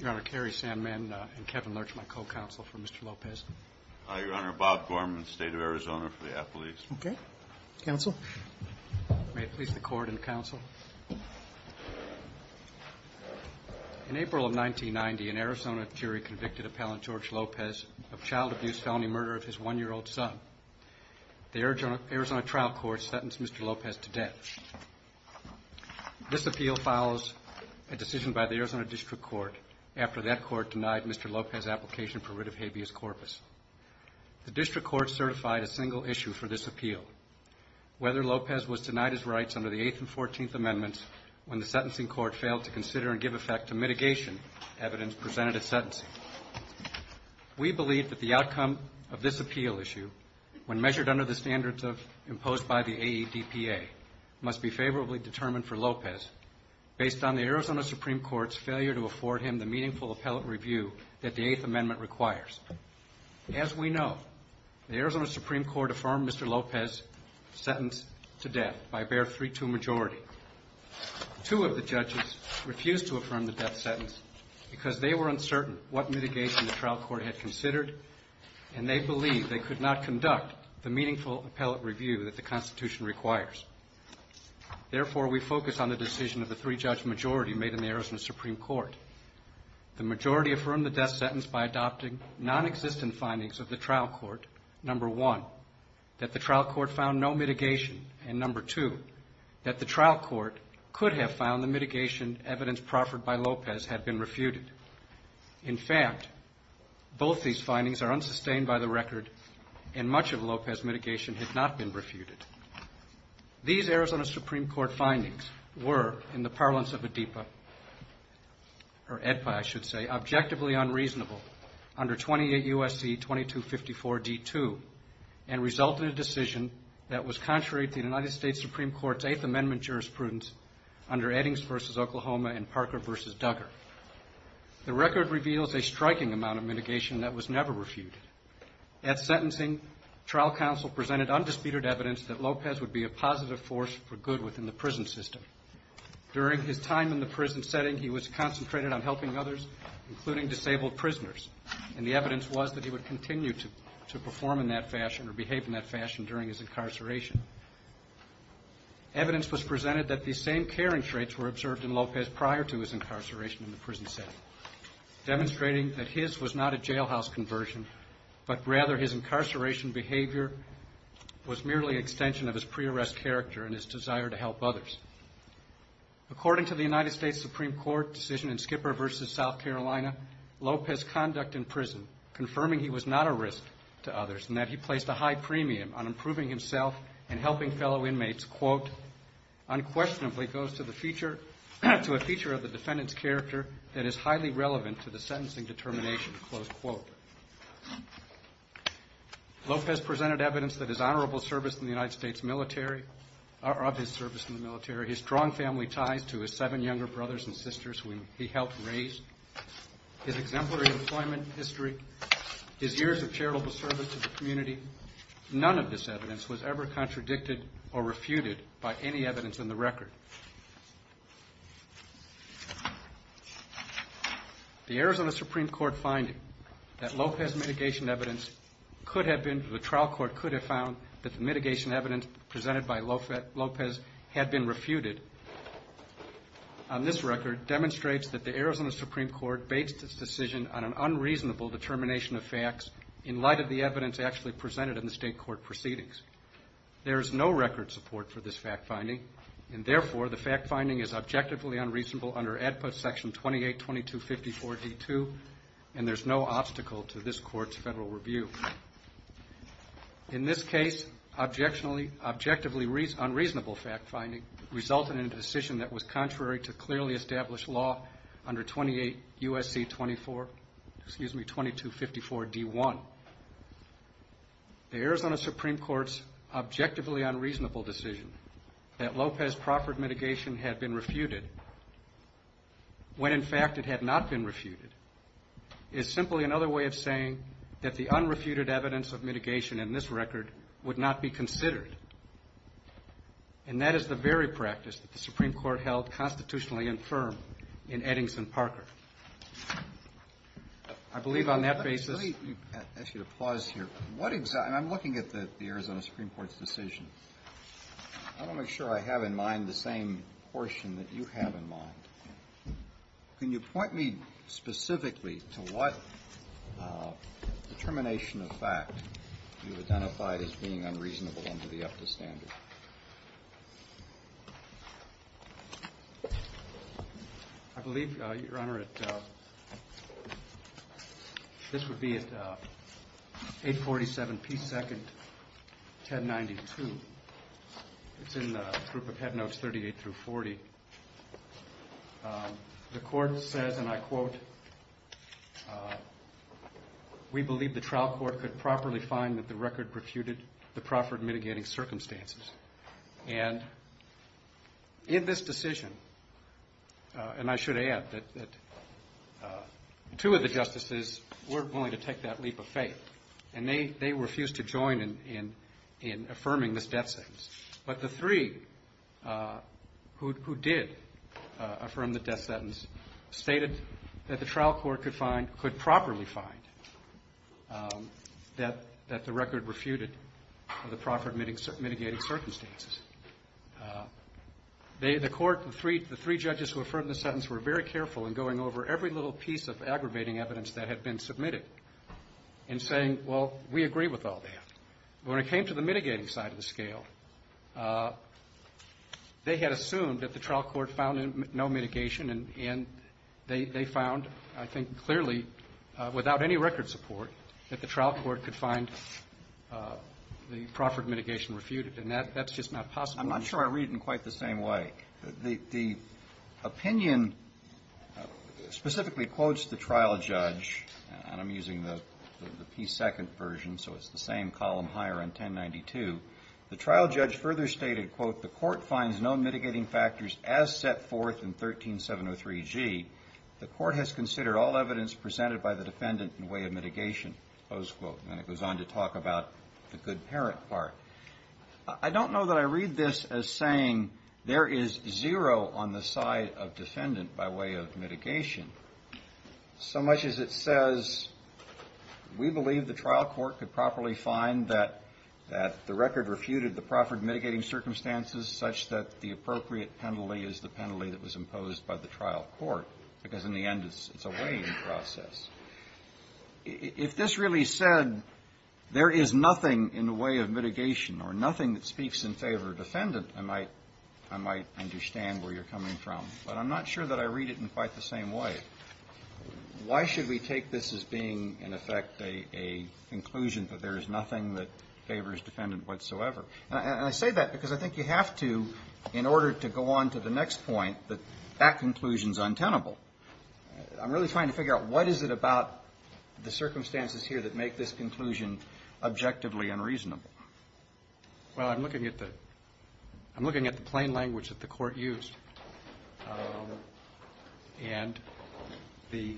Your Honor, Kerry Sandman and Kevin Lurch, my co-counsel for Mr. Lopez. Your Honor, Bob Gorman, State of Arizona for the Appalachians. Okay. Counsel. May it please the Court and Counsel. In April of 1990, an Arizona jury convicted appellant George Lopez of child abuse felony murder of his one-year-old son. The Arizona trial court sentenced Mr. Lopez to death. This appeal follows a decision by the Arizona District Court after that court denied Mr. Lopez's application for writ of habeas corpus. The District Court certified a single issue for this appeal, whether Lopez was denied his rights under the Eighth and Fourteenth Amendments when the sentencing court failed to consider and give effect to mitigation evidence presented at sentencing. We believe that the outcome of this appeal issue, when measured under the standards imposed by the AEDPA, must be favorably determined for Lopez based on the Arizona Supreme Court's failure to afford him the meaningful appellate review that the Eighth Amendment requires. As we know, the Arizona Supreme Court affirmed Mr. Lopez's sentence to death by a bare 3-2 majority. Two of the judges refused to affirm the death sentence because they were uncertain what mitigation the trial court had considered and they believed they could not conduct the meaningful appellate review that the Constitution requires. Therefore, we focus on the decision of the three-judge majority made in the Arizona Supreme Court. The majority affirmed the death sentence by adopting nonexistent findings of the trial court, number one, that the trial court found no mitigation, and number two, that the trial court could have found the mitigation evidence proffered by Lopez had been refuted. In fact, both these findings are unsustained by the record and much of Lopez's mitigation had not been refuted. These Arizona Supreme Court findings were, in the parlance of AEDPA, or AEDPA, I should say, objectively unreasonable under 28 U.S.C. 2254 D.2 and resulted in a decision that was contrary to the United States Supreme Court's Eighth Amendment jurisprudence under Eddings v. Oklahoma and Parker v. Duggar. The record reveals a striking amount of mitigation that was never refuted. At sentencing, trial counsel presented undisputed evidence that Lopez would be a positive force for good within the prison system. During his time in the prison setting, he was concentrated on helping others, including disabled prisoners, and the evidence was that he would continue to perform in that fashion or behave in that fashion during his incarceration. Evidence was presented that these same caring traits were observed in Lopez prior to his incarceration in the prison setting, demonstrating that his was not a jailhouse conversion, but rather his incarceration behavior was merely an extension of his pre-arrest character and his desire to help others. According to the United States Supreme Court decision in Skipper v. South Carolina, Lopez's conduct in prison confirming he was not a risk to others and that he placed a high premium on improving himself and helping fellow inmates, quote, unquestionably goes to a feature of the defendant's character that is highly relevant to the sentencing determination, close quote. Lopez presented evidence that his honorable service in the United States military, his strong family ties to his seven younger brothers and sisters whom he helped raise, his exemplary employment history, his years of charitable service to the community, none of this evidence was ever contradicted or refuted by any evidence in the record. The Arizona Supreme Court finding that Lopez's mitigation evidence could have been, the trial court could have found that the mitigation evidence presented by Lopez had been refuted on this record demonstrates that the Arizona Supreme Court based its decision on an unreasonable determination of facts in light of the evidence actually presented in the state court proceedings. There is no record support for this fact finding and therefore the fact finding is objectively unreasonable under ADPUT section 28-2254-D2 and there's no obstacle to this court's federal review. In this case, objectively unreasonable fact finding resulted in a decision that was contrary to clearly established law under 28 U.S.C. 24, excuse me, 2254-D1. The Arizona Supreme Court's objectively unreasonable decision that Lopez proffered mitigation had been refuted when in fact it had not been refuted is simply another way of saying that the unrefuted evidence of mitigation in this record would not be considered and that is the very practice that the Supreme Court held constitutionally infirm in Eddings and Parker. I believe on that basis. Let me ask you to pause here. I'm looking at the Arizona Supreme Court's decision. I want to make sure I have in mind the same portion that you have in mind. Can you point me specifically to what determination of fact you identified as being unreasonable under the APTA standard? I believe, Your Honor, this would be at 847P2-1092. It's in the group of head notes 38-40. We believe the trial court could properly find that the record refuted the proffered mitigating circumstances. And in this decision, and I should add that two of the justices weren't willing to take that leap of faith and they refused to join in affirming this death sentence. But the three who did affirm the death sentence stated that the trial court could find, could properly find that the record refuted the proffered mitigating circumstances. The court, the three judges who affirmed the sentence were very careful in going over every little piece of aggravating evidence that had been submitted and saying, well, we agree with all that. When it came to the mitigating side of the scale, they had assumed that the trial court found no mitigation and they found, I think clearly, without any record support, that the trial court could find the proffered mitigation refuted. And that's just not possible. I'm not sure I read it in quite the same way. The trial judge further stated, quote, the court finds no mitigating factors as set forth in 13703G. The court has considered all evidence presented by the defendant in way of mitigation, close quote. And it goes on to talk about the good parent part. I don't know that I read this as saying there is zero on the side of defendant by way of mitigation. So much as it says we believe the trial court could properly find that the record refuted the proffered mitigating circumstances such that the appropriate penalty is the penalty that was imposed by the trial court. Because in the end, it's a weighing process. If this really said there is nothing in the way of mitigation or nothing that speaks in favor of defendant, I might understand where you're coming from. But I'm not sure that I read it in quite the same way. Why should we take this as being, in effect, a conclusion that there is nothing that favors defendant whatsoever? And I say that because I think you have to, in order to go on to the next point, that that conclusion is untenable. I'm really trying to figure out what is it about the circumstances here that make this conclusion objectively unreasonable. Well, I'm looking at the plain language that the court used. And the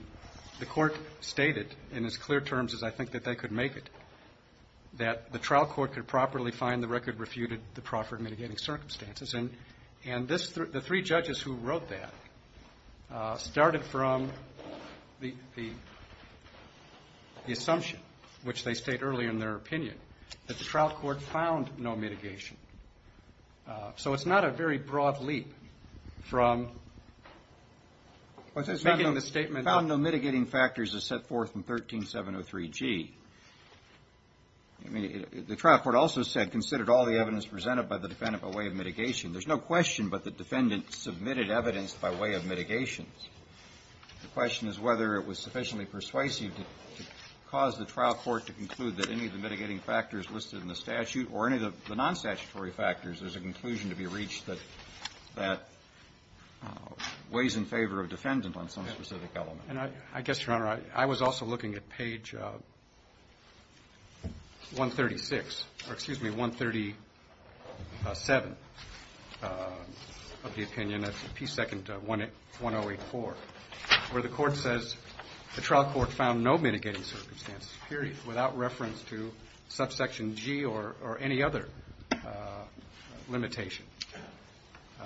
court stated, in as clear terms as I think that they could make it, that the trial court could properly find the record refuted the proffered mitigating circumstances. And the three judges who wrote that started from the assumption, which they state earlier in their opinion, that the trial court found no mitigation. So it's not a very broad leap from making the statement. Well, it says found no mitigating factors as set forth in 13703G. I mean, the trial court also said considered all the evidence presented by the defendant by way of mitigation. There's no question but the defendant submitted evidence by way of mitigation. The question is whether it was sufficiently persuasive to cause the trial court to conclude that any of the mitigating factors listed in the statute or any of the non-statutory factors is a conclusion to be reached that weighs in favor of defendant on some specific element. And I guess, Your Honor, I was also looking at page 136 or, excuse me, 137 of the opinion. That's P2-1084, where the court says the trial court found no mitigating circumstances, period, without reference to subsection G or any other limitation.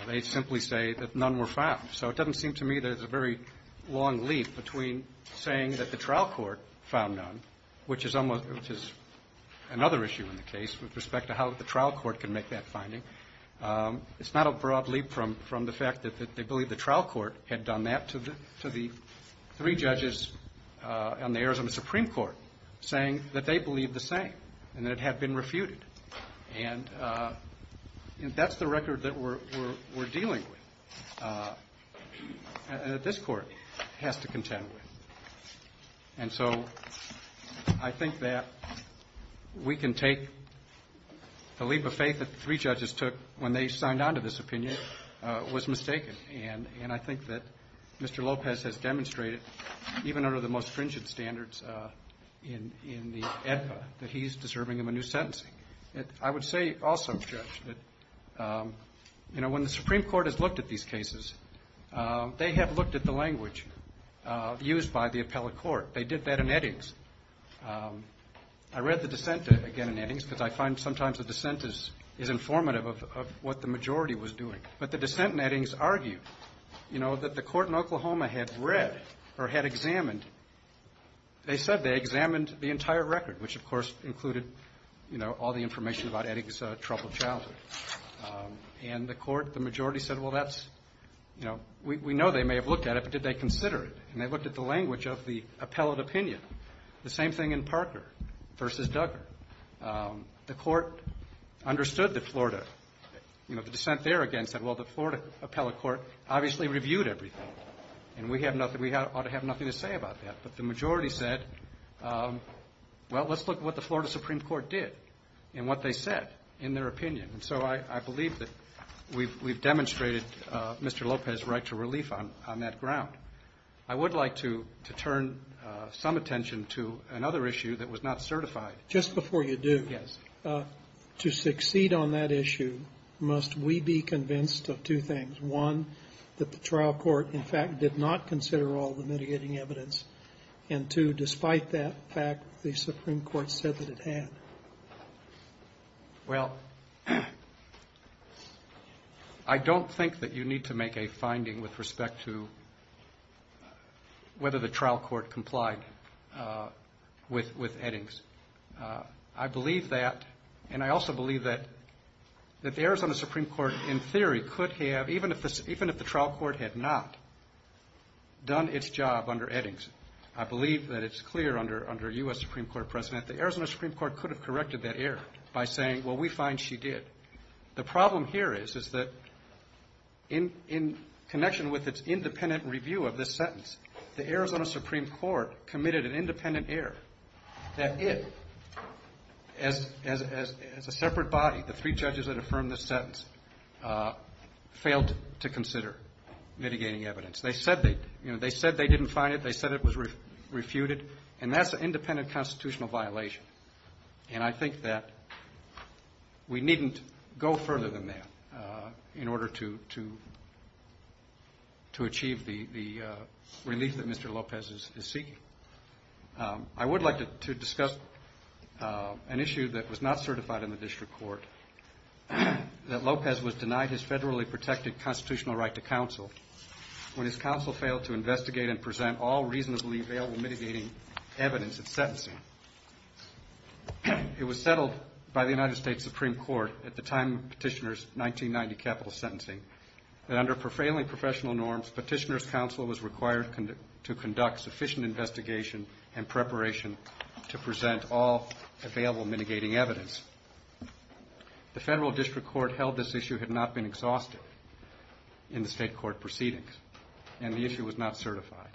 They simply say that none were found. So it doesn't seem to me there's a very long leap between saying that the trial court found none, which is another issue in the case with respect to how the trial court can make that finding. It's not a broad leap from the fact that they believe the trial court had done that to the three judges on the eras of the Supreme Court, saying that they believe the same and that it had been refuted. And that's the record that we're dealing with, and that this Court has to contend with. And so I think that we can take the leap of faith that the three judges took in this case. And I think that what they took when they signed on to this opinion was mistaken. And I think that Mr. Lopez has demonstrated, even under the most stringent standards in the AEDPA, that he's deserving of a new sentencing. I would say also, Judge, that, you know, when the Supreme Court has looked at these cases, they have looked at the language used by the appellate court. They did that in Eddings. I read the dissent, again, in Eddings, because I find sometimes the dissent is informative of what the majority was doing. But the dissent in Eddings argued, you know, that the court in Oklahoma had read or had examined, they said they examined the entire record, which, of course, included, you know, all the information about Eddings' troubled childhood. And the court, the majority said, well, that's, you know, we know they may have looked at it, but did they consider it? And they looked at the language of the appellate opinion. The same thing in Parker v. Duggar. The court understood that Florida, you know, the dissent there, again, said, well, the Florida appellate court obviously reviewed everything, and we have nothing, we ought to have nothing to say about that. But the majority said, well, let's look at what the Florida Supreme Court did and what they said in their opinion. And so I believe that we've demonstrated Mr. Lopez' right to relief on that ground. I would like to turn some attention to another issue that was not certified. Just before you do, to succeed on that issue, must we be convinced of two things? One, that the trial court, in fact, did not consider all the mitigating evidence? And two, despite that fact, the Supreme Court said that it had? Well, I don't think that you need to make a finding with respect to the fact that the Supreme Court said that it had. Whether the trial court complied with Eddings. I believe that, and I also believe that the Arizona Supreme Court, in theory, could have, even if the trial court had not, done its job under Eddings, I believe that it's clear under U.S. Supreme Court precedent, the Arizona Supreme Court could have corrected that error by saying, well, we find she did. The problem here is, is that in connection with its independent review of this sentence, the Arizona Supreme Court committed an independent error, that if, as a separate body, the three judges that affirmed this sentence, failed to consider mitigating evidence. They said they didn't find it. They said it was refuted. And that's an independent constitutional violation. And I think that we needn't go further than that in order to achieve the relief on that ground. The relief that Mr. Lopez is seeking. I would like to discuss an issue that was not certified in the district court, that Lopez was denied his federally protected constitutional right to counsel when his counsel failed to investigate and present all reasonably available mitigating evidence at sentencing. It was settled by the United States Supreme Court at the time of Petitioner's 1990 capital sentencing, that under prevailing professional norms, Petitioner's counsel was required to conduct sufficient investigation and preparation to present all available mitigating evidence. The federal district court held this issue had not been exhausted in the state court proceedings, and the issue was not certified.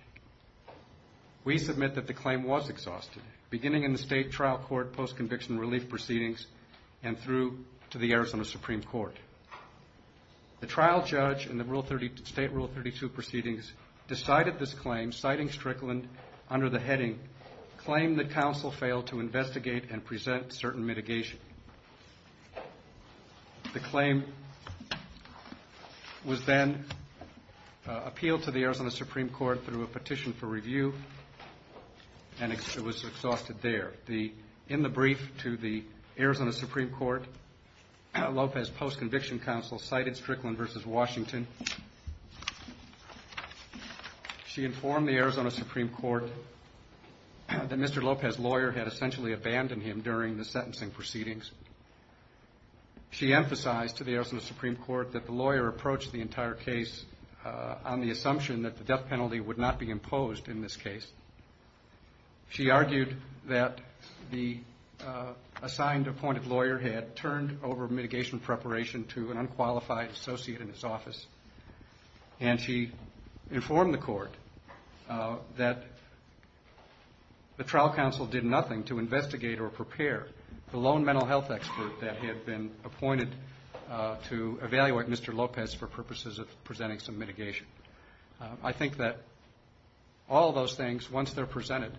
We submit that the claim was exhausted, beginning in the state trial court post-conviction relief proceedings and through to the Arizona Supreme Court. The trial judge in the state rule 32 proceedings decided this claim, citing Strickland under the heading, claim that counsel failed to investigate and present certain mitigation. The claim was then appealed to the Arizona Supreme Court through a petition for review, and it was exhausted there. In the brief to the Arizona Supreme Court, Lopez post-conviction relief was presented to the Arizona Supreme Court, and the Arizona Supreme Court's post-conviction counsel cited Strickland v. Washington. She informed the Arizona Supreme Court that Mr. Lopez's lawyer had essentially abandoned him during the sentencing proceedings. She emphasized to the Arizona Supreme Court that the lawyer approached the entire case on the assumption that the death penalty would not be imposed in this case. She argued that the assigned appointed lawyer had turned over mitigation preparation to a unqualified associate in his office, and she informed the court that the trial counsel did nothing to investigate or prepare the lone mental health expert that had been appointed to evaluate Mr. Lopez for purposes of presenting some mitigation. I think that all those things, once they're presented,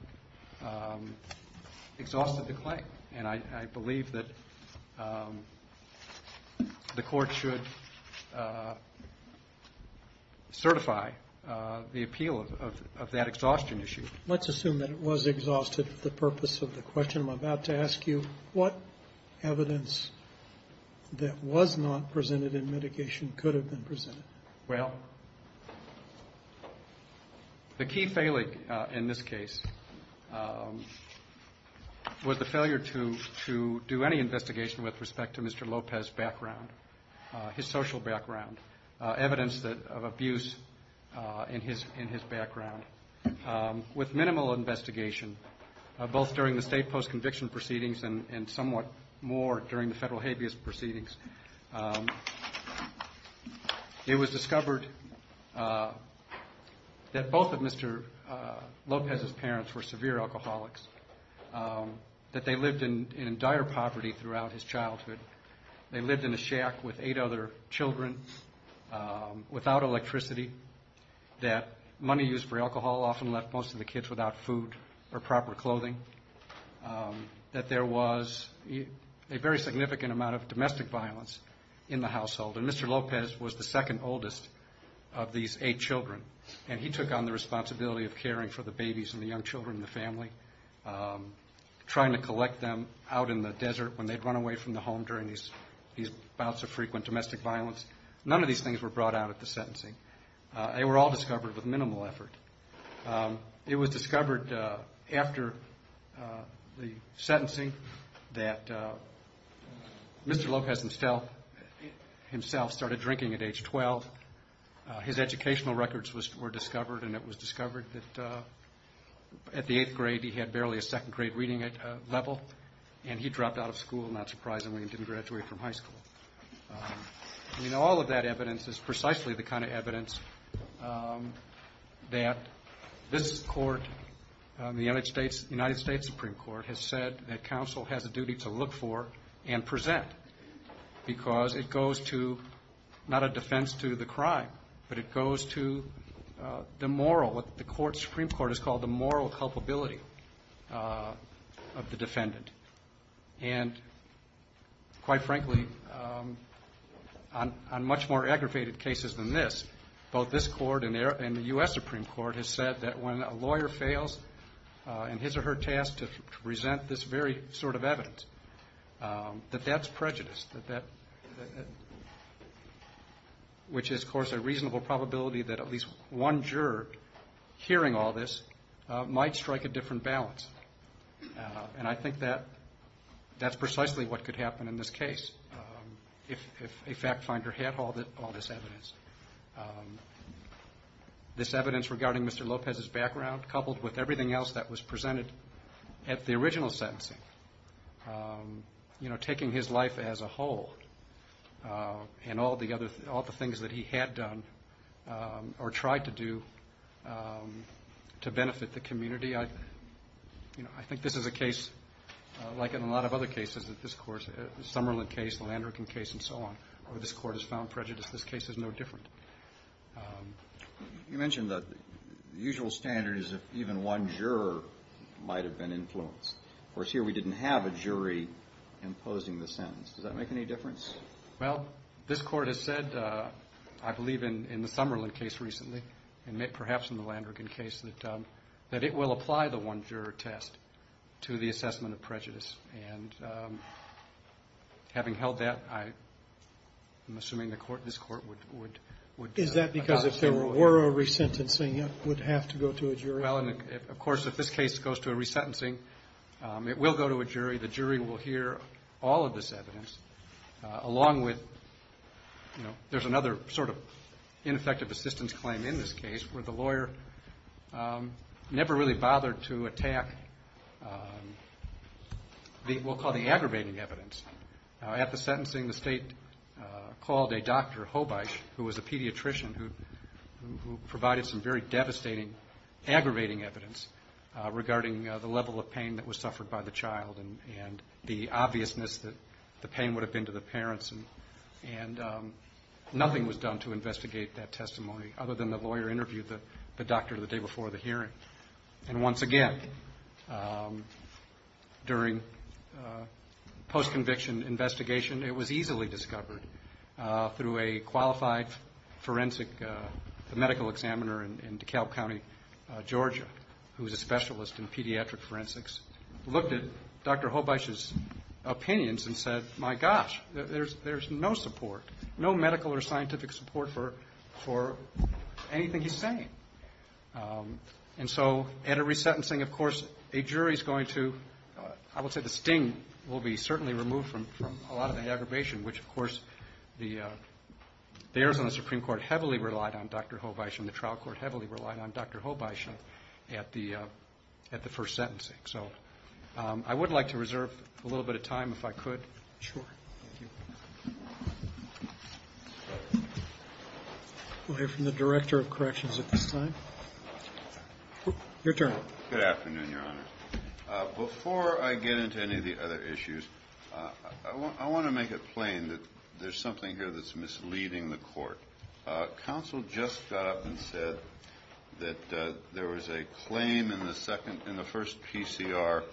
exhausted the claim, and I believe that the court is now in the process of reviewing the case, and the court should certify the appeal of that exhaustion issue. Let's assume that it was exhausted for the purpose of the question I'm about to ask you. What evidence that was not presented in mitigation could have been presented? Well, the key failing in this case was the failure to do any investigation with respect to Mr. Lopez's background. The key failing was his social background, evidence of abuse in his background. With minimal investigation, both during the state post-conviction proceedings and somewhat more during the federal habeas proceedings, it was discovered that both of Mr. Lopez's parents were severe alcoholics, that they lived in dire poverty throughout his childhood. They lived in a shack with eight of their children, without electricity, that money used for alcohol often left most of the kids without food or proper clothing, that there was a very significant amount of domestic violence in the household, and Mr. Lopez was the second oldest of these eight children, and he took on the responsibility of caring for the babies and the young children in the family, trying to collect them out in the desert when they'd run away from the home during these bouts of frequent domestic violence. None of these things were brought out at the sentencing. They were all discovered with minimal effort. It was discovered after the sentencing that Mr. Lopez himself started drinking at age 12. His educational records were discovered, and it was discovered that at the eighth grade he had barely a degree, and he dropped out of school, not surprisingly, and didn't graduate from high school. I mean, all of that evidence is precisely the kind of evidence that this Court, the United States Supreme Court, has said that counsel has a duty to look for and present, because it goes to not a defense to the crime, but it goes to the moral, what the Supreme Court has called the moral culpability of the case. And, quite frankly, on much more aggravated cases than this, both this Court and the U.S. Supreme Court have said that when a lawyer fails in his or her task to present this very sort of evidence, that that's prejudice, which is, of course, a reasonable probability that at least one juror hearing all this might strike a different balance. And I think that, in my view, is the case. That's precisely what could happen in this case if a fact finder had all this evidence. This evidence regarding Mr. Lopez's background, coupled with everything else that was presented at the original sentencing, you know, taking his life as a whole, and all the things that he had done or tried to do to benefit the community, I think this is a case like in a lot of other cases where this Court has found prejudice. This case is no different. You mentioned that the usual standard is if even one juror might have been influenced. Of course, here we didn't have a jury imposing the sentence. Does that make any difference? Well, this Court has said, I believe in the Summerlin case recently, and perhaps in the Landrigan case, that it will apply the one-juror standard. And having held that, I'm assuming this Court would... Is that because if there were a resentencing, it would have to go to a jury? Well, of course, if this case goes to a resentencing, it will go to a jury. The jury will hear all of this evidence, along with, you know, there's another sort of ineffective assistance claim in this case where the lawyer never really bothered to attack the so-called aggravating evidence. At the sentencing, the State called a doctor, Hobisch, who was a pediatrician who provided some very devastating, aggravating evidence regarding the level of pain that was suffered by the child and the obviousness that the pain would have been to the parents. And nothing was done to investigate that testimony, other than the lawyer interviewed the doctor the day before the hearing. Post-conviction investigation, it was easily discovered through a qualified forensic, a medical examiner in DeKalb County, Georgia, who's a specialist in pediatric forensics, looked at Dr. Hobisch's opinions and said, my gosh, there's no support, no medical or scientific support for anything he's saying. And so, at a resentencing, of course, a jury's going to, I would say, distinguish and will be certainly removed from a lot of the aggravation, which, of course, the Arizona Supreme Court heavily relied on Dr. Hobisch and the trial court heavily relied on Dr. Hobisch at the first sentencing. So, I would like to reserve a little bit of time, if I could. Sure. We'll hear from the Director of Corrections at this time. Your turn. Good afternoon, Your Honor. Before I get into any of the other issues, I want to make it plain that there's something here that's misleading the court. Counsel just got up and said that there was a claim in the second, in the first PCR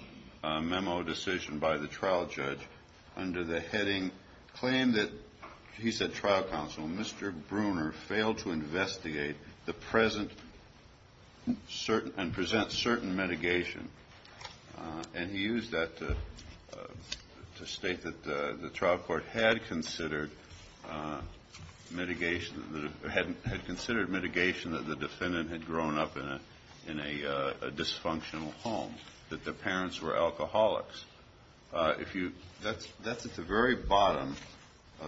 memo decision by the trial judge, under the heading, claim that, he said, trial counsel, Mr. Bruner failed to investigate the present condition of the patient. And present certain mitigation. And he used that to state that the trial court had considered mitigation, had considered mitigation that the defendant had grown up in a dysfunctional home, that their parents were alcoholics. If you, that's at the very bottom,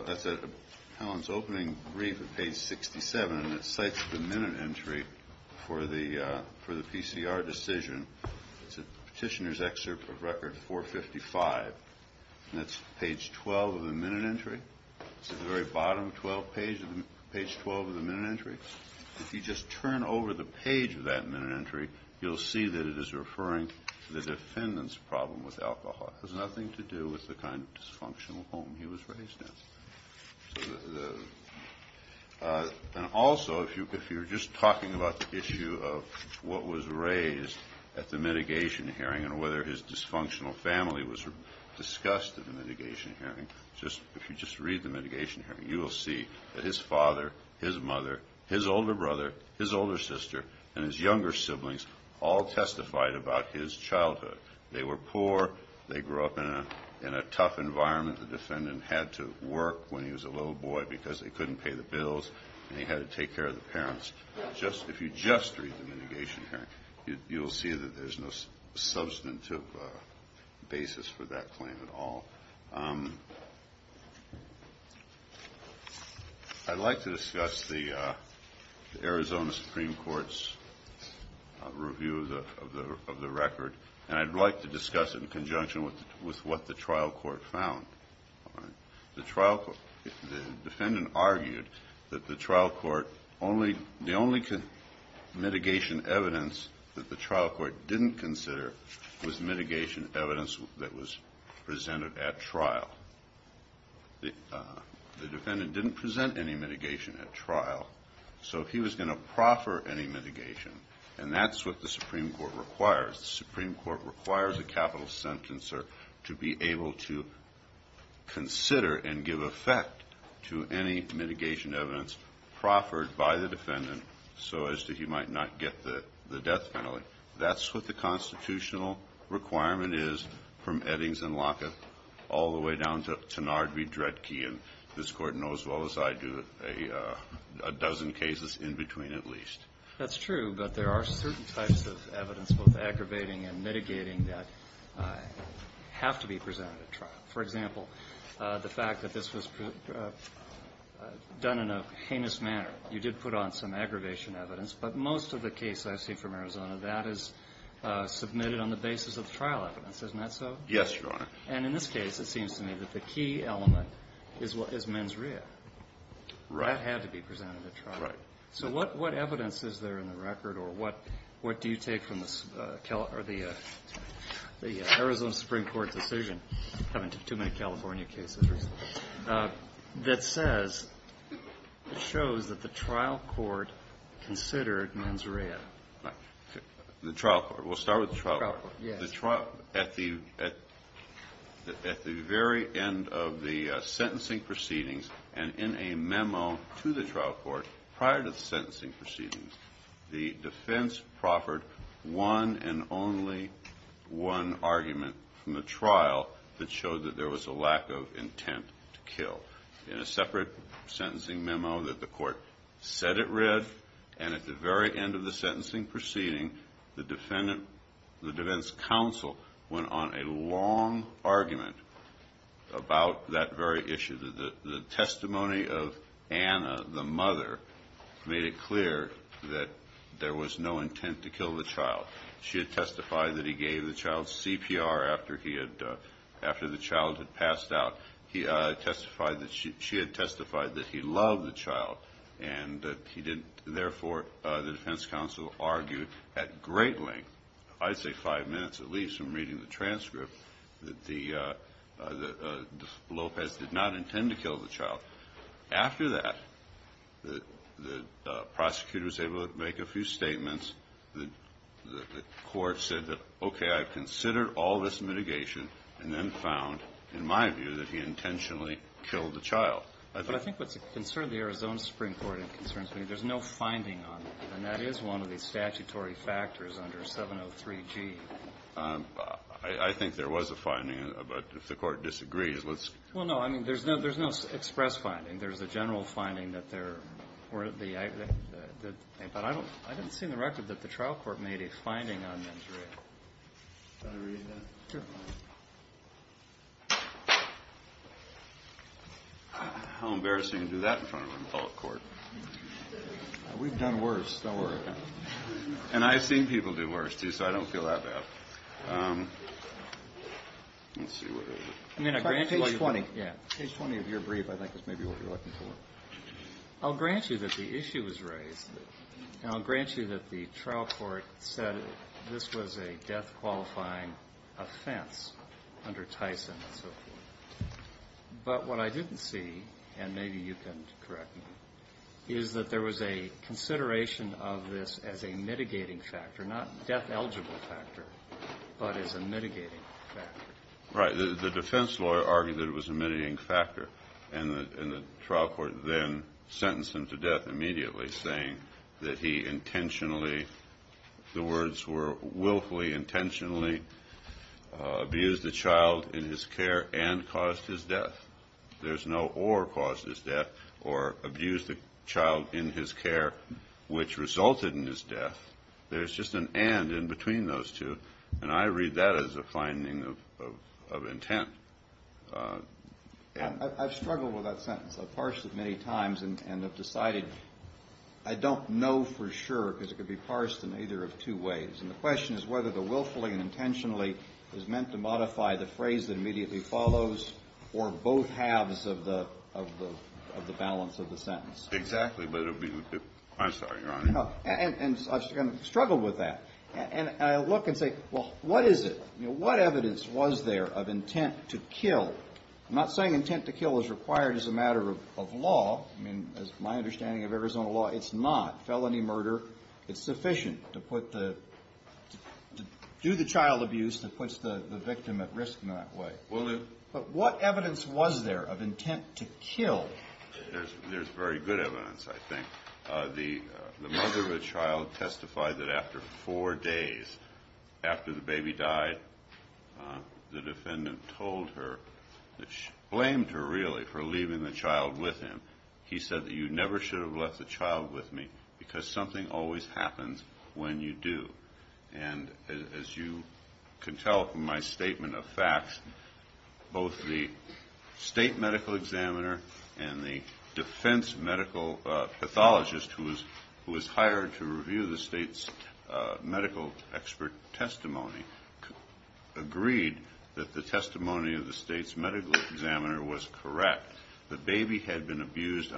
that's at Helen's opening brief at page 67, and it cites the minute entry. For the, for the PCR decision, it's a petitioner's excerpt of record 455. And that's page 12 of the minute entry. It's at the very bottom, 12 page, page 12 of the minute entry. If you just turn over the page of that minute entry, you'll see that it is referring to the defendant's problem with alcohol. It has nothing to do with the kind of dysfunctional home he was raised in. And also, if you're just talking about the issue of what was raised at the mitigation hearing, and whether his dysfunctional family was discussed at the mitigation hearing, just, if you just read the mitigation hearing, you will see that his father, his mother, his older brother, his older sister, and his younger siblings all testified about his childhood. They were poor. They grew up in a tough environment. They couldn't work when he was a little boy because they couldn't pay the bills, and he had to take care of the parents. Just, if you just read the mitigation hearing, you'll see that there's no substantive basis for that claim at all. I'd like to discuss the Arizona Supreme Court's review of the record, and I'd like to discuss it in conjunction with what the trial court found. The trial court, the defendant argued that the trial court only, the only mitigation evidence that the trial court didn't consider was mitigation evidence that was presented at trial. The defendant didn't present any mitigation at trial, so he was going to proffer any mitigation, and that's what the Supreme Court requires. The Supreme Court requires a capital sentence to be able to consider and give effect to any mitigation evidence proffered by the defendant so as to he might not get the death penalty. That's what the constitutional requirement is from Eddings and Lockett all the way down to Tannard v. Dredke, and this Court knows well as I do, a dozen cases in between at least. That's true, but there are certain types of evidence, both aggravating and mitigating, that have to be presented at trial. For example, the fact that this was done in a heinous manner. You did put on some aggravation evidence, but most of the case I see from Arizona, that is submitted on the basis of trial evidence. Isn't that so? Yes, Your Honor. And in this case, it seems to me that the key element is mens rea. That had to be presented at trial. So what evidence is there in the record, or what do you take from the Arizona Supreme Court decision, having too many California cases recently, that says, shows that the trial court considered mens rea. The trial court. We'll start with the trial court. At the very end of the sentencing proceedings, and in a memo to the trial court prior to the sentencing proceedings, the defense proffered one and only one argument from the trial that showed that there was a lack of intent to kill. In a separate sentencing memo that the court said it read, and at the very end of the sentencing proceeding, the defense counsel went on a long argument about that very issue. The testimony of Anna, the mother, made it clear that there was no intent to kill the child. She had testified that he gave the child CPR after the child had passed out. She had testified that he loved the child. Therefore, the defense counsel argued at great length, I'd say five minutes at least from reading the transcript, that Lopez did not intend to kill the child. After that, the prosecutor was able to make a few statements. The court said, okay, I've considered all this mitigation, and then found, in my view, that he loved the child. He intentionally killed the child. But I think what's a concern of the Arizona Supreme Court concerns me, there's no finding on it, and that is one of the statutory factors under 703G. I think there was a finding, but if the court disagrees, let's... Well, no, I mean, there's no express finding. There's a general finding that there were the, but I didn't see in the record that the trial court made a finding on the injury. How embarrassing to do that in front of an adult court. We've done worse, don't worry about it. And I've seen people do worse, too, so I don't feel that bad. Page 20 of your brief, I think, is maybe what you're looking for. I'll grant you that the issue was raised, and I'll grant you that the trial court said this was a death-qualifying offense under Tyson and so forth. But what I didn't see, and maybe you can correct me, is that there was a consideration of this as a mitigating factor, not death-eligible factor, but as a mitigating factor. Right, the defense lawyer argued that it was a mitigating factor, and the trial court then sentenced him to death immediately, saying that he intentionally, the words were willfully, intentionally abused a child in his care and caused his death. There's no or caused his death or abused a child in his care which resulted in his death. There's just an and in between those two, and I read that as a finding of intent. I've struggled with that sentence. I've parsed it many times and have decided I don't know for sure, because it could be parsed in either of two ways. And the question is whether the willfully and intentionally is meant to modify the phrase that immediately follows or both halves of the balance of the sentence. Exactly, but it would be, I'm sorry, Your Honor. And I've struggled with that, and I look and say, well, what is it, what evidence was there of intent to kill? I'm not saying intent to kill is required as a matter of law. I mean, as my understanding of Arizona law, it's not felony murder. It's sufficient to do the child abuse that puts the victim at risk in that way. But what evidence was there of intent to kill? There's very good evidence, I think. The mother of the child testified that after four days, after the baby died, the defendant told her, blamed her, really, for leaving the child with him. He said that you never should have left the child with me, because something always happens when you do. And as you can tell from my statement of facts, both the state medical examiner and the defense medical pathologist who was hired to review the state's medical expert testimony agreed that the testimony of the state's medical examiner was correct. The baby had been abused,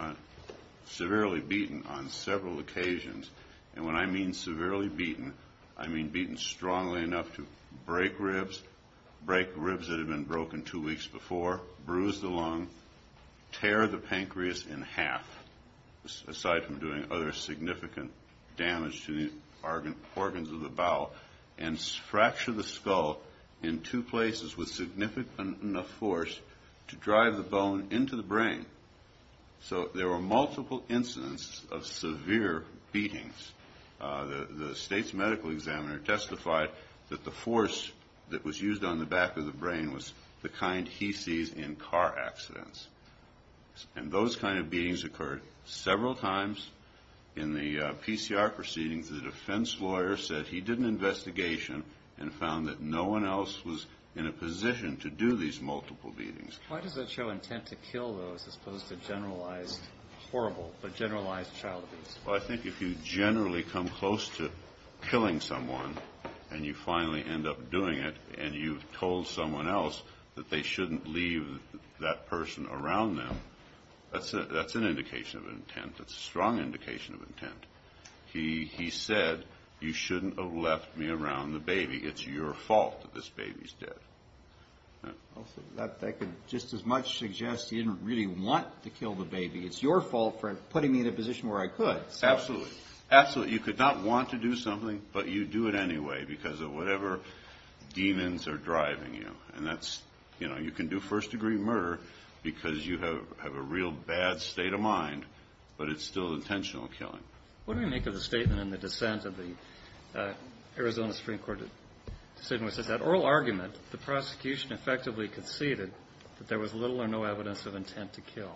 severely beaten on several occasions. And when I mean severely beaten, I mean beaten strongly enough to break ribs, break ribs that had been broken two weeks before, bruise the lung, tear the pancreas in half, aside from doing other significant damage to the organs of the bowel, and fracture the skull in two places with significant enough force to drive the bone into the pancreas. So there were multiple incidents of severe beatings. The state's medical examiner testified that the force that was used on the back of the brain was the kind he sees in car accidents. And those kind of beatings occurred several times. In the PCR proceedings, the defense lawyer said he did an investigation and found that no one else was in a position to do these multiple beatings. Why does that show intent to kill, though, as opposed to generalized, horrible, but generalized child abuse? Well, I think if you generally come close to killing someone, and you finally end up doing it, and you've told someone else that they shouldn't leave that person around them, that's an indication of intent. That's a strong indication of intent. He said, you shouldn't have left me around the baby, it's your fault that this baby's dead. That could just as much suggest he didn't really want to kill the baby, it's your fault for putting me in a position where I could. Absolutely, absolutely, you could not want to do something, but you do it anyway, because of whatever demons are driving you. And that's, you know, you can do first degree murder because you have a real bad state of mind, but it's still intentional killing. What do we make of the statement in the dissent of the Arizona Supreme Court decision which says, that oral argument, the prosecution effectively conceded that there was little or no evidence of intent to kill,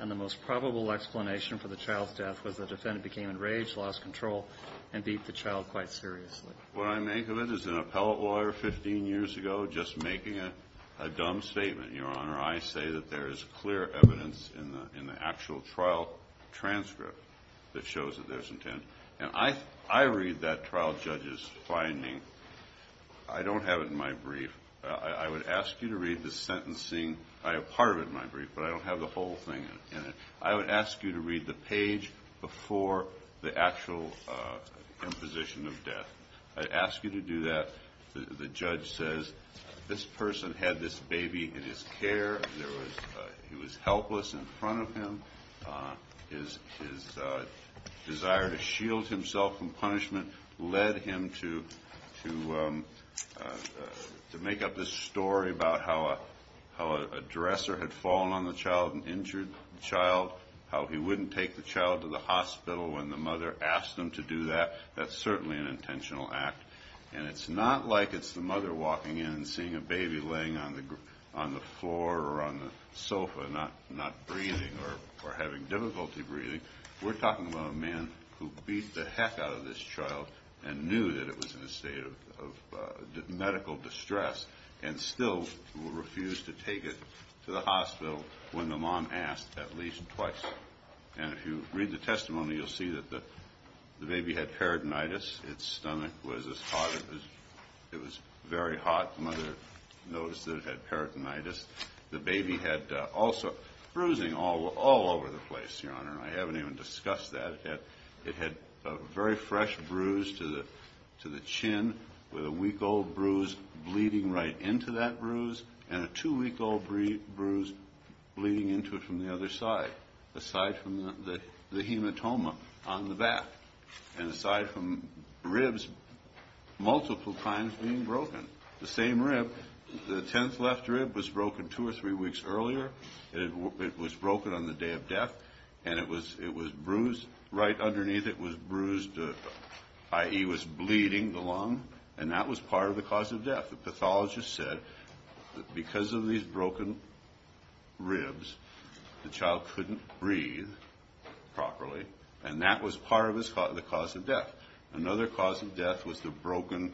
and the most probable explanation for the child's death was the defendant became enraged, lost control, and beat the child quite seriously. What I make of it is an appellate lawyer 15 years ago just making a dumb statement. Your Honor, I say that there is clear evidence in the actual trial transcript that shows that there's intent to kill. And I read that trial judge's finding, I don't have it in my brief. I would ask you to read the sentencing, I have part of it in my brief, but I don't have the whole thing in it. I would ask you to read the page before the actual imposition of death. I'd ask you to do that, the judge says, this person had this baby in his care, he was helpless in front of him, his desire to shield himself from punishment led him to make up this story about how a dresser had fallen on the child and injured the child, how he wouldn't take the child to the hospital when the mother asked him to do that, that's certainly an intentional act. And it's not like it's the mother walking in and seeing a baby laying on the floor or on the sofa, not breathing or having difficulty breathing, we're talking about a man who beat the heck out of this child and knew that it was in a state of medical distress and still refused to take it to the hospital when the mom asked at least twice. And if you read the testimony, you'll see that the baby had peritonitis, its stomach was as hot as it was very hot, the mother noticed that it had peritonitis, the baby had also bruising all over the place, Your Honor, I haven't even discussed that yet, it had a very fresh bruise to the chin with a week-old bruise bleeding right into that bruise and a two-week-old bruise bleeding into it from the other side, aside from the hematoma on the back, and aside from ribs multiple times being broken, the same rib, the tenth left rib was broken two or three weeks earlier, it was broken on the day of death and it was bruised, right underneath it was bruised, i.e. was bleeding the lung and that was part of the cause of death, the pathologist said that because of these broken ribs, the child couldn't breathe properly and that was part of the cause of death. Another cause of death was the broken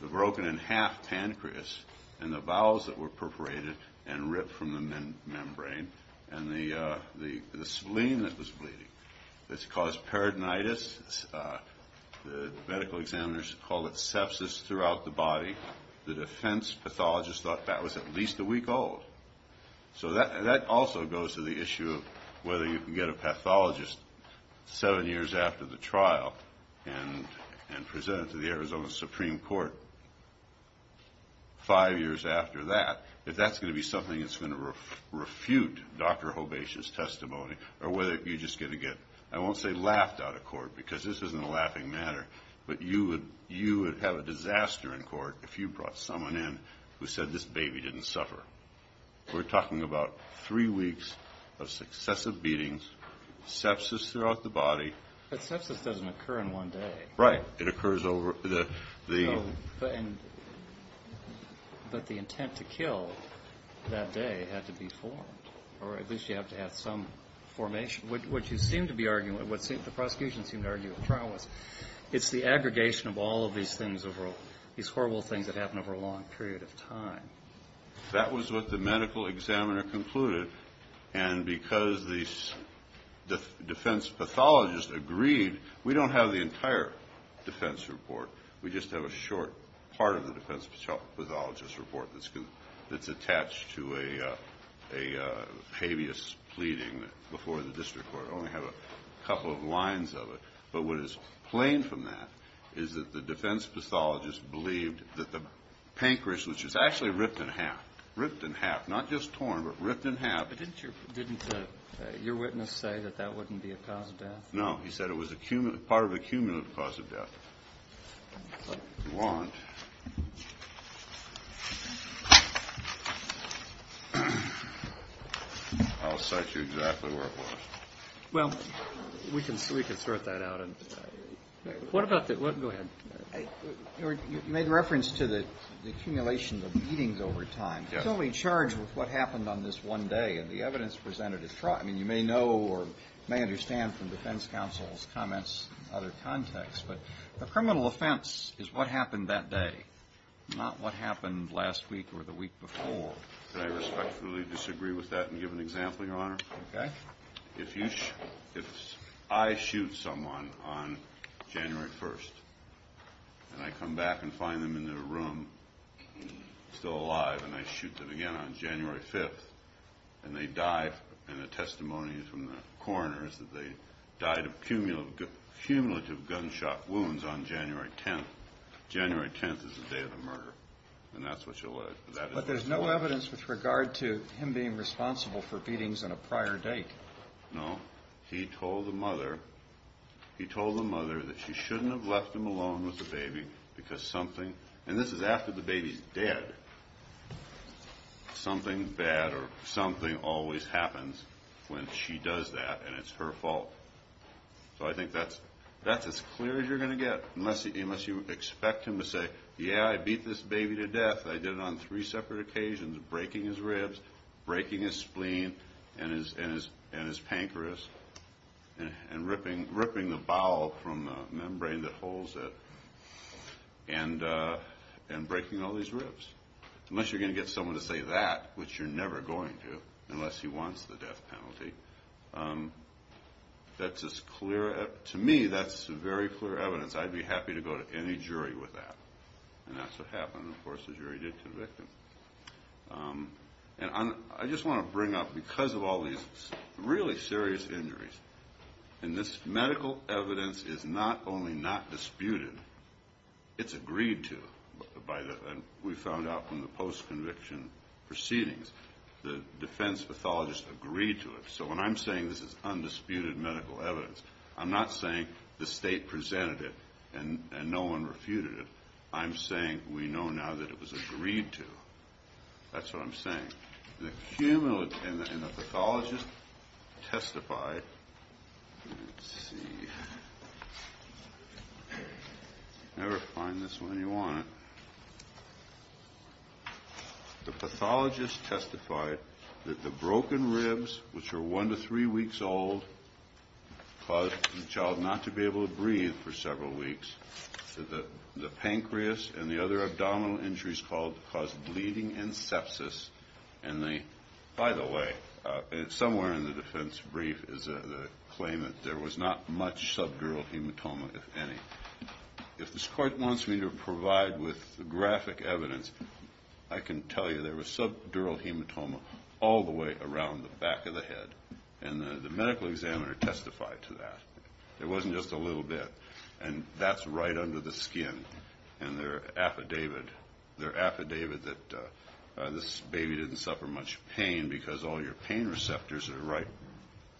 in half pancreas and the bowels that were perforated and ripped from the membrane and the spleen that was bleeding, this caused peritonitis, the medical examiners called it sepsis throughout the body, the defense pathologist thought that was at least a week old, so that also goes to the issue of whether you can get a pathologist seven years after the trial and present it to the Arizona Supreme Court five years after that, if that's going to be something that's going to refute Dr. Hobash's testimony or whether you're just going to get, I won't say laughed out of court because this isn't a laughing matter, but you would have a disaster in court if you brought someone in who said this baby didn't suffer. We're talking about three weeks of successive beatings, sepsis throughout the body. But sepsis doesn't occur in one day. But the intent to kill that day had to be formed, or at least you have to have some formation. What you seem to be arguing, what the prosecution seemed to argue at trial was it's the aggregation of all of these things, these horrible things that happen over a long period of time. That was what the medical examiner concluded, and because the defense pathologist agreed, we don't have the entire defense report, we just have a short part of the defense pathologist report that's attached to a habeas pleading before the district court, only have a couple of lines of it. But what is plain from that is that the defense pathologist believed that the pancreas, which was actually ripped in half, ripped in half, not just torn, but ripped in half. But didn't your witness say that that wouldn't be a cause of death? No, he said it was part of a cumulative cause of death. But if you want, I'll cite you exactly where it was. Well, we can sort that out. You made reference to the accumulation of beatings over time. The evidence presented at trial, you may know or may understand from defense counsel's comments in other contexts, but the criminal offense is what happened that day, not what happened last week or the week before. I respectfully disagree with that and give an example, Your Honor. If I shoot someone on January 1st and I come back and find them in their room still alive and I shoot them again on January 5th and they die, and the testimony from the coroner is that they died of cumulative gunshot wounds on January 10th. January 10th is the day of the murder. But there's no evidence with regard to him being responsible for beatings on a prior date. No, he told the mother that she shouldn't have left him alone with the baby because something, and this is after the baby's dead, something bad or something always happens when she does that and it's her fault. So I think that's as clear as you're going to get unless you expect him to say, yeah, I beat this baby to death, I did it on three separate occasions, breaking his ribs, breaking his spleen and his pancreas and ripping the bowel from the membrane that holds it and breaking all these ribs. Unless you're going to get someone to say that, which you're never going to, unless he wants the death penalty, that's as clear, to me, that's very clear evidence. I'd be happy to go to any jury with that. And that's what happened, of course, the jury did convict him. I just want to bring up, because of all these really serious injuries, and this medical evidence is not only not disputed, it's agreed to by the, we found out from the post-conviction proceedings, the defense pathologists agreed to it. So when I'm saying this is undisputed medical evidence, I'm not saying the state presented it and no one refuted it, I'm saying we know now that it was agreed to. That's what I'm saying. And the pathologist testified, let's see, you never find this when you want it, the pathologist testified that the broken ribs, which are one to three weeks old, caused the child not to be able to breathe for several weeks, the pancreas and the other abdominal injuries caused bleeding and sepsis, and by the way, somewhere in the defense brief is a claim that there was not much subdural hematoma, if any. If this court wants me to provide with graphic evidence, I can tell you there was subdural hematoma all the way around the back of the head, and the medical examiner testified to that. It wasn't just a little bit, and that's right under the skin, and their affidavit, their affidavit that this baby didn't suffer much pain because all your pain receptors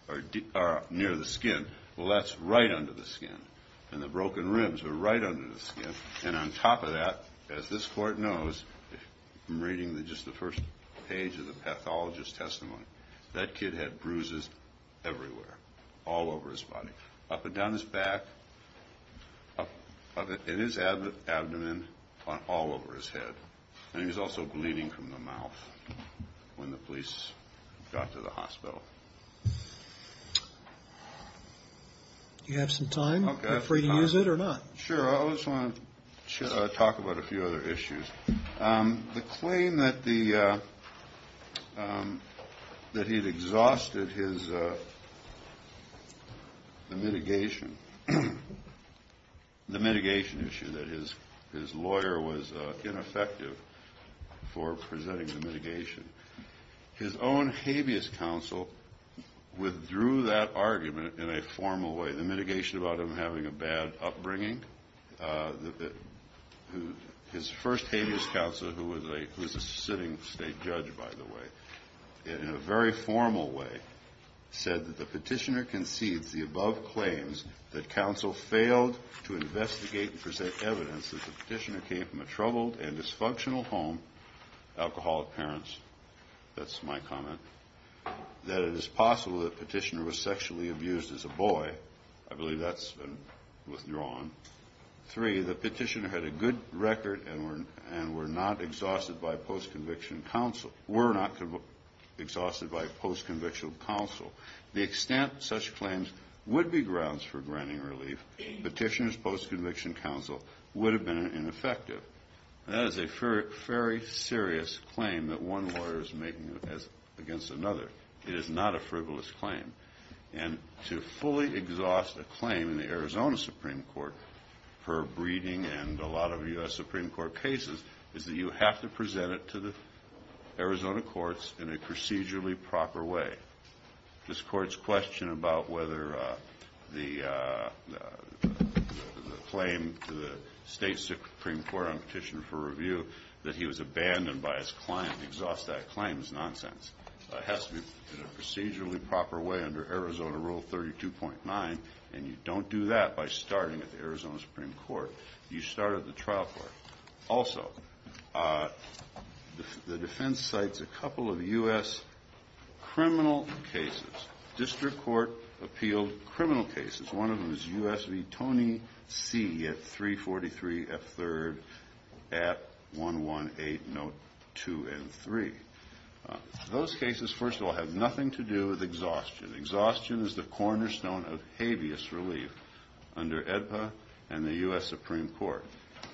are near the skin, well that's right under the skin, and the broken ribs are right under the skin, and on top of that, as this court knows, I'm reading just the first page of the pathologist's testimony, that kid had bruises everywhere, all over his body, up and down his back, in his abdomen, all over his head, and he was also bleeding from the mouth when the police got to the hospital. Do you have some time? Are you free to use it, or not? Sure, I just want to talk about a few other issues. The claim that he had exhausted his, the mitigation, the mitigation issue, that his lawyer was ineffective for presenting the mitigation. His own habeas counsel withdrew that argument in a formal way, the mitigation about him having a bad upbringing. His first habeas counsel, who was a sitting state judge, by the way, in a very formal way, said that the petitioner concedes the above claims, that counsel failed to investigate and present evidence that the petitioner came from a troubled and dysfunctional home, alcoholic parents, that's my comment, that it is possible that the petitioner was sexually abused as a boy. I believe that's been withdrawn. Three, the petitioner had a good record and were not exhausted by post-conviction counsel. To the extent such claims would be grounds for granting relief, petitioner's post-conviction counsel would have been ineffective. That is a very serious claim that one lawyer is making against another. It is not a frivolous claim. And to fully exhaust a claim in the Arizona Supreme Court, per Breeding and a lot of U.S. Supreme Court cases, is that you have to present it to the Arizona courts in a procedurally proper way. This Court's question about whether the claim to the State Supreme Court on Petition for Review that he was abandoned by his client, exhaust that claim, is nonsense. It has to be in a procedurally proper way under Arizona Rule 32.9, and you don't do that by starting at the Arizona Supreme Court. You start at the trial court. Also, the defense cites a couple of U.S. criminal cases. District Court appealed criminal cases. One of them is U.S. v. Tony C. at 343 F. 3rd at 118 Note 2 and 3. Those cases, first of all, have nothing to do with exhaustion. Exhaustion is the cornerstone of habeas relief under AEDPA and the U.S. Supreme Court.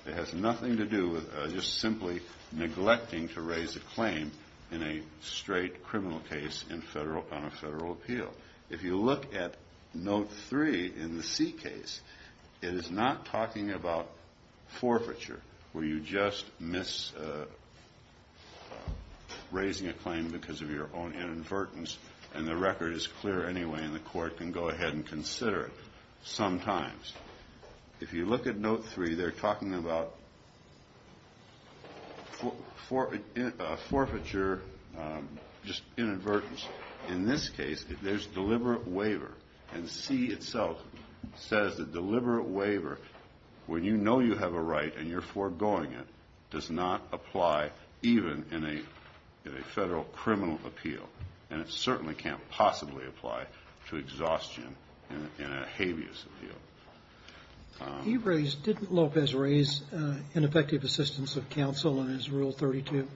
It has nothing to do with just simply neglecting to raise a claim in a straight criminal case on a federal appeal. If you look at Note 3 in the C case, it is not talking about forfeiture where you just miss raising a claim because of your own inadvertence and the record is clear anyway and the court can go ahead and consider it sometimes. If you look at Note 3, they're talking about forfeiture, just inadvertence. In this case, there's deliberate waiver, and C itself says that deliberate waiver when you know you have a right and you're foregoing it does not apply even in a federal criminal appeal, and it certainly can't possibly apply to exhaustion in a habeas appeal. Didn't Lopez raise ineffective assistance of counsel in his Rule 32?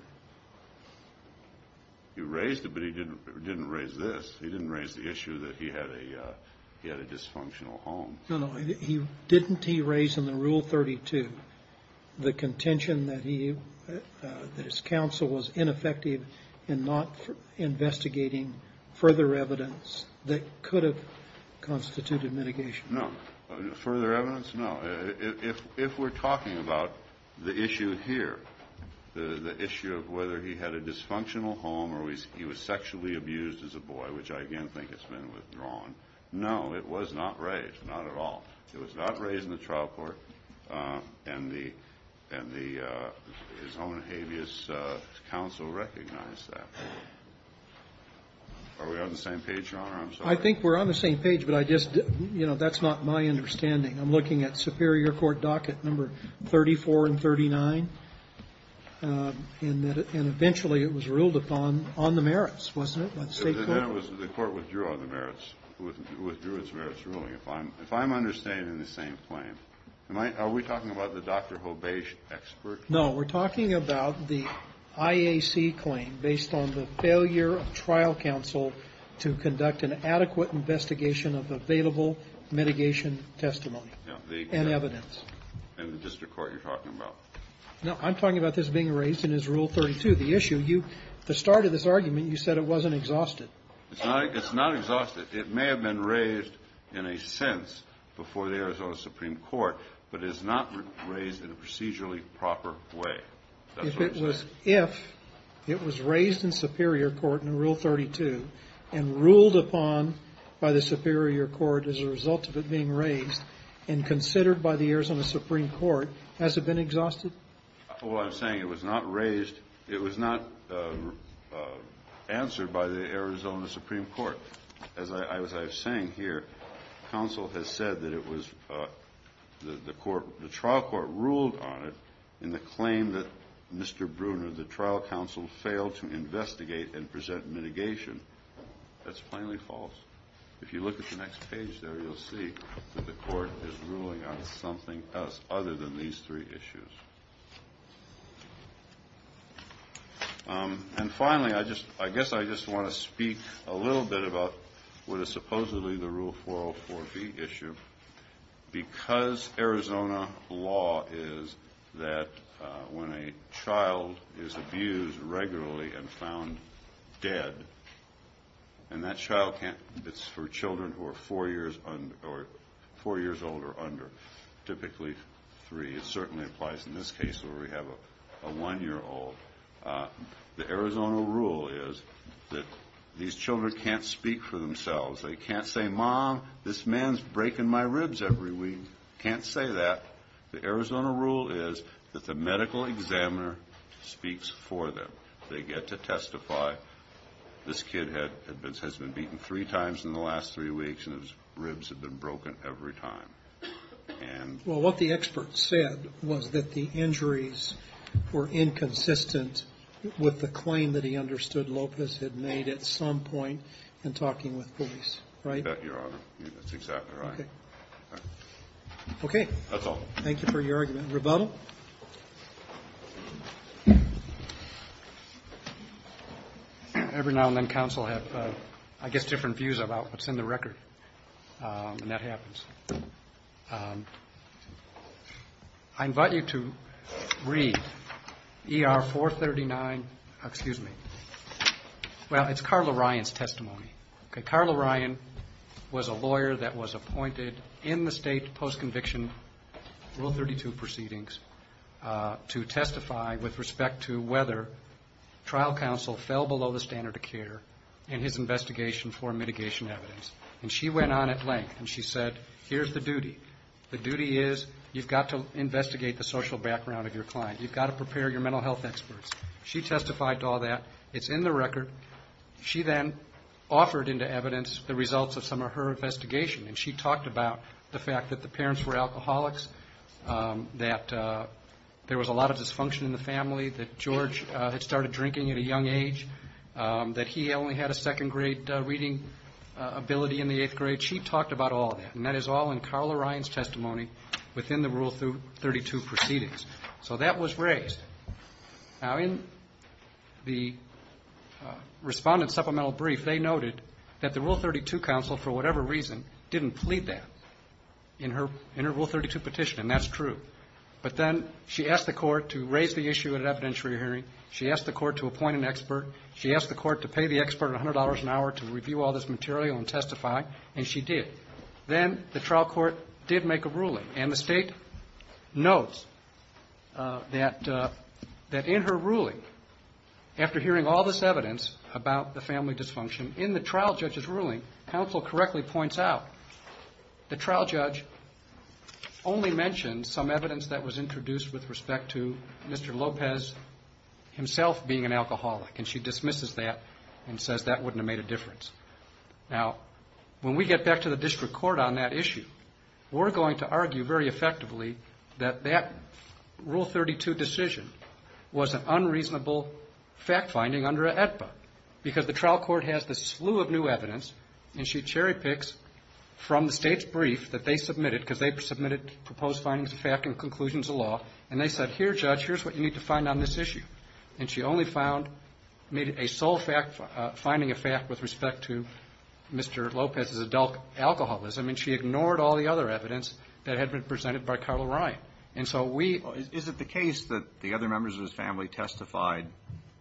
He raised it, but he didn't raise this. He didn't raise the issue that he had a dysfunctional home. Didn't he raise in the Rule 32 the contention that his counsel was ineffective in not investigating further evidence that could have constituted mitigation? No. Further evidence, no. If we're talking about the issue here, the issue of whether he had a dysfunctional home or he was sexually abused as a boy, which I again think has been withdrawn, no, it was not raised, not at all. It was not raised in the trial court, and his own habeas counsel recognized that. Are we on the same page, Your Honor? I'm sorry. I think we're on the same page, but that's not my understanding. I'm looking at Superior Court docket number 34 and 39, and eventually it was ruled upon on the merits, wasn't it? The court withdrew on the merits, withdrew its merits ruling. If I'm understanding the same claim, are we talking about the Dr. Hobage expert? No. We're talking about the IAC claim based on the failure of trial counsel to conduct an adequate investigation of available mitigation testimony and evidence. Maybe the district court you're talking about. No, I'm talking about this being raised in his Rule 32. The issue, the start of this argument, you said it wasn't exhausted. It's not exhausted. It may have been raised in a sense before the Arizona Supreme Court, but it is not raised in a procedurally proper way. If it was raised in Superior Court in Rule 32 and ruled upon by the Superior Court as a result of it being raised and considered by the Arizona Supreme Court, has it been exhausted? I'm saying it was not raised, it was not answered by the Arizona Supreme Court. As I was saying here, counsel has said that it was the trial court ruled on it in the claim that Mr. Bruner, the trial counsel, failed to investigate and present mitigation. That's plainly false. If you look at the next page there, you'll see that the court is ruling on something else other than these three issues. And finally, I guess I just want to speak a little bit about what is supposedly the Rule 404B issue. Because Arizona law is that when a child is abused regularly and found dead, and that child, it's for children who are four years old or under, typically three. It certainly applies in this case where we have a one-year-old. The Arizona rule is that these children can't speak for themselves. They can't say, Mom, this man's breaking my ribs every week. Can't say that. The Arizona rule is that the medical examiner speaks for them. They get to testify. This kid has been beaten three times in the last three weeks and his ribs have been broken every time. Well, what the expert said was that the injuries were inconsistent with the claim that he understood Lopez had made at some point in talking with police, right? That's exactly right. Okay. That's all. Thank you for your argument. Rebuttal? Every now and then counsel have I guess different views about what's in the record, and that happens. I invite you to read ER 439. Excuse me. Well, it's Carl O'Ryan's testimony. Carl O'Ryan was a lawyer that was appointed in the state post-conviction Rule 32 proceedings to testify with respect to whether trial counsel fell below the standard of care in his investigation for mitigation evidence. And she went on at length. And she said, here's the duty. The duty is you've got to investigate the social background of your client. You've got to prepare your mental health experts. She testified to all that. It's in the record. She then offered into evidence the results of some of her investigation, and she talked about the fact that the parents were alcoholics, that there was a lot dysfunction in the family, that George had started drinking at a young age, that he only had a second-grade reading ability in the eighth grade. She talked about all of that, and that is all in Carl O'Ryan's testimony within the Rule 32 proceedings. So that was raised. Now, in the Respondent's supplemental brief, they noted that the Rule 32 counsel, for whatever reason, didn't plead that in her Rule 32 petition, and that's true. But then she asked the court to raise the issue at an evidentiary hearing. She asked the court to appoint an expert. She asked the court to pay the expert $100 an hour to review all this material and testify, and she did. Then the trial court did make a ruling, and the State notes that in her ruling, after hearing all this evidence about the family dysfunction, in the trial judge's ruling, counsel correctly points out the trial judge only mentioned some evidence that was introduced with respect to Mr. Lopez himself being an alcoholic, and she dismisses that and says that wouldn't have made a difference. Now, when we get back to the district court on that issue, we're going to argue very effectively that that Rule 32 decision was an unreasonable fact-finding under a AEDPA, because the trial court has this slew of new evidence, and she cherry-picks from the State's brief that they submitted, because they submitted proposed findings of fact and conclusions of law, and they said, here, Judge, here's what you need to find on this issue. And she only found a sole fact-finding effect with respect to Mr. Lopez's adult alcoholism, and she ignored all the other evidence that had been presented by Carl Ryan. And so we ---- The case that the other members of his family testified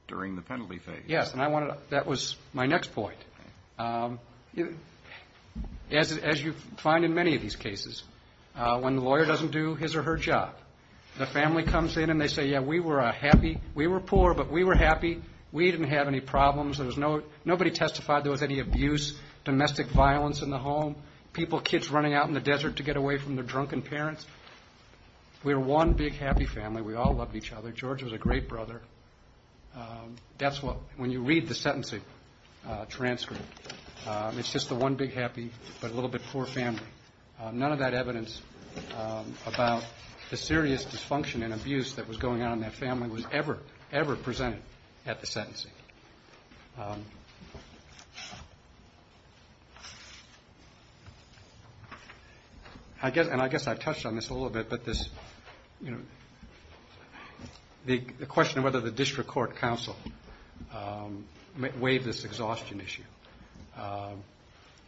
during the penalty phase. Yes, and I wanted to ---- that was my next point. As you find in many of these cases, when the lawyer doesn't do his or her job, the family comes in and they say, yeah, we were happy, we were poor, but we were happy, we didn't have any problems, there was no ---- nobody testified there was any abuse, domestic violence in the home, people, kids running out in the desert to get away from their drunken parents. We were one big happy family, we all loved each other, George was a great brother. That's what ---- when you read the sentencing transcript, it's just the one big happy, but a little bit poor family. None of that evidence about the serious dysfunction and abuse that was going on in that family was ever, ever presented at the sentencing. I guess ---- and I guess I've touched on this a little bit, but this, you know, the question of whether the district court counsel waived this exhaustion issue.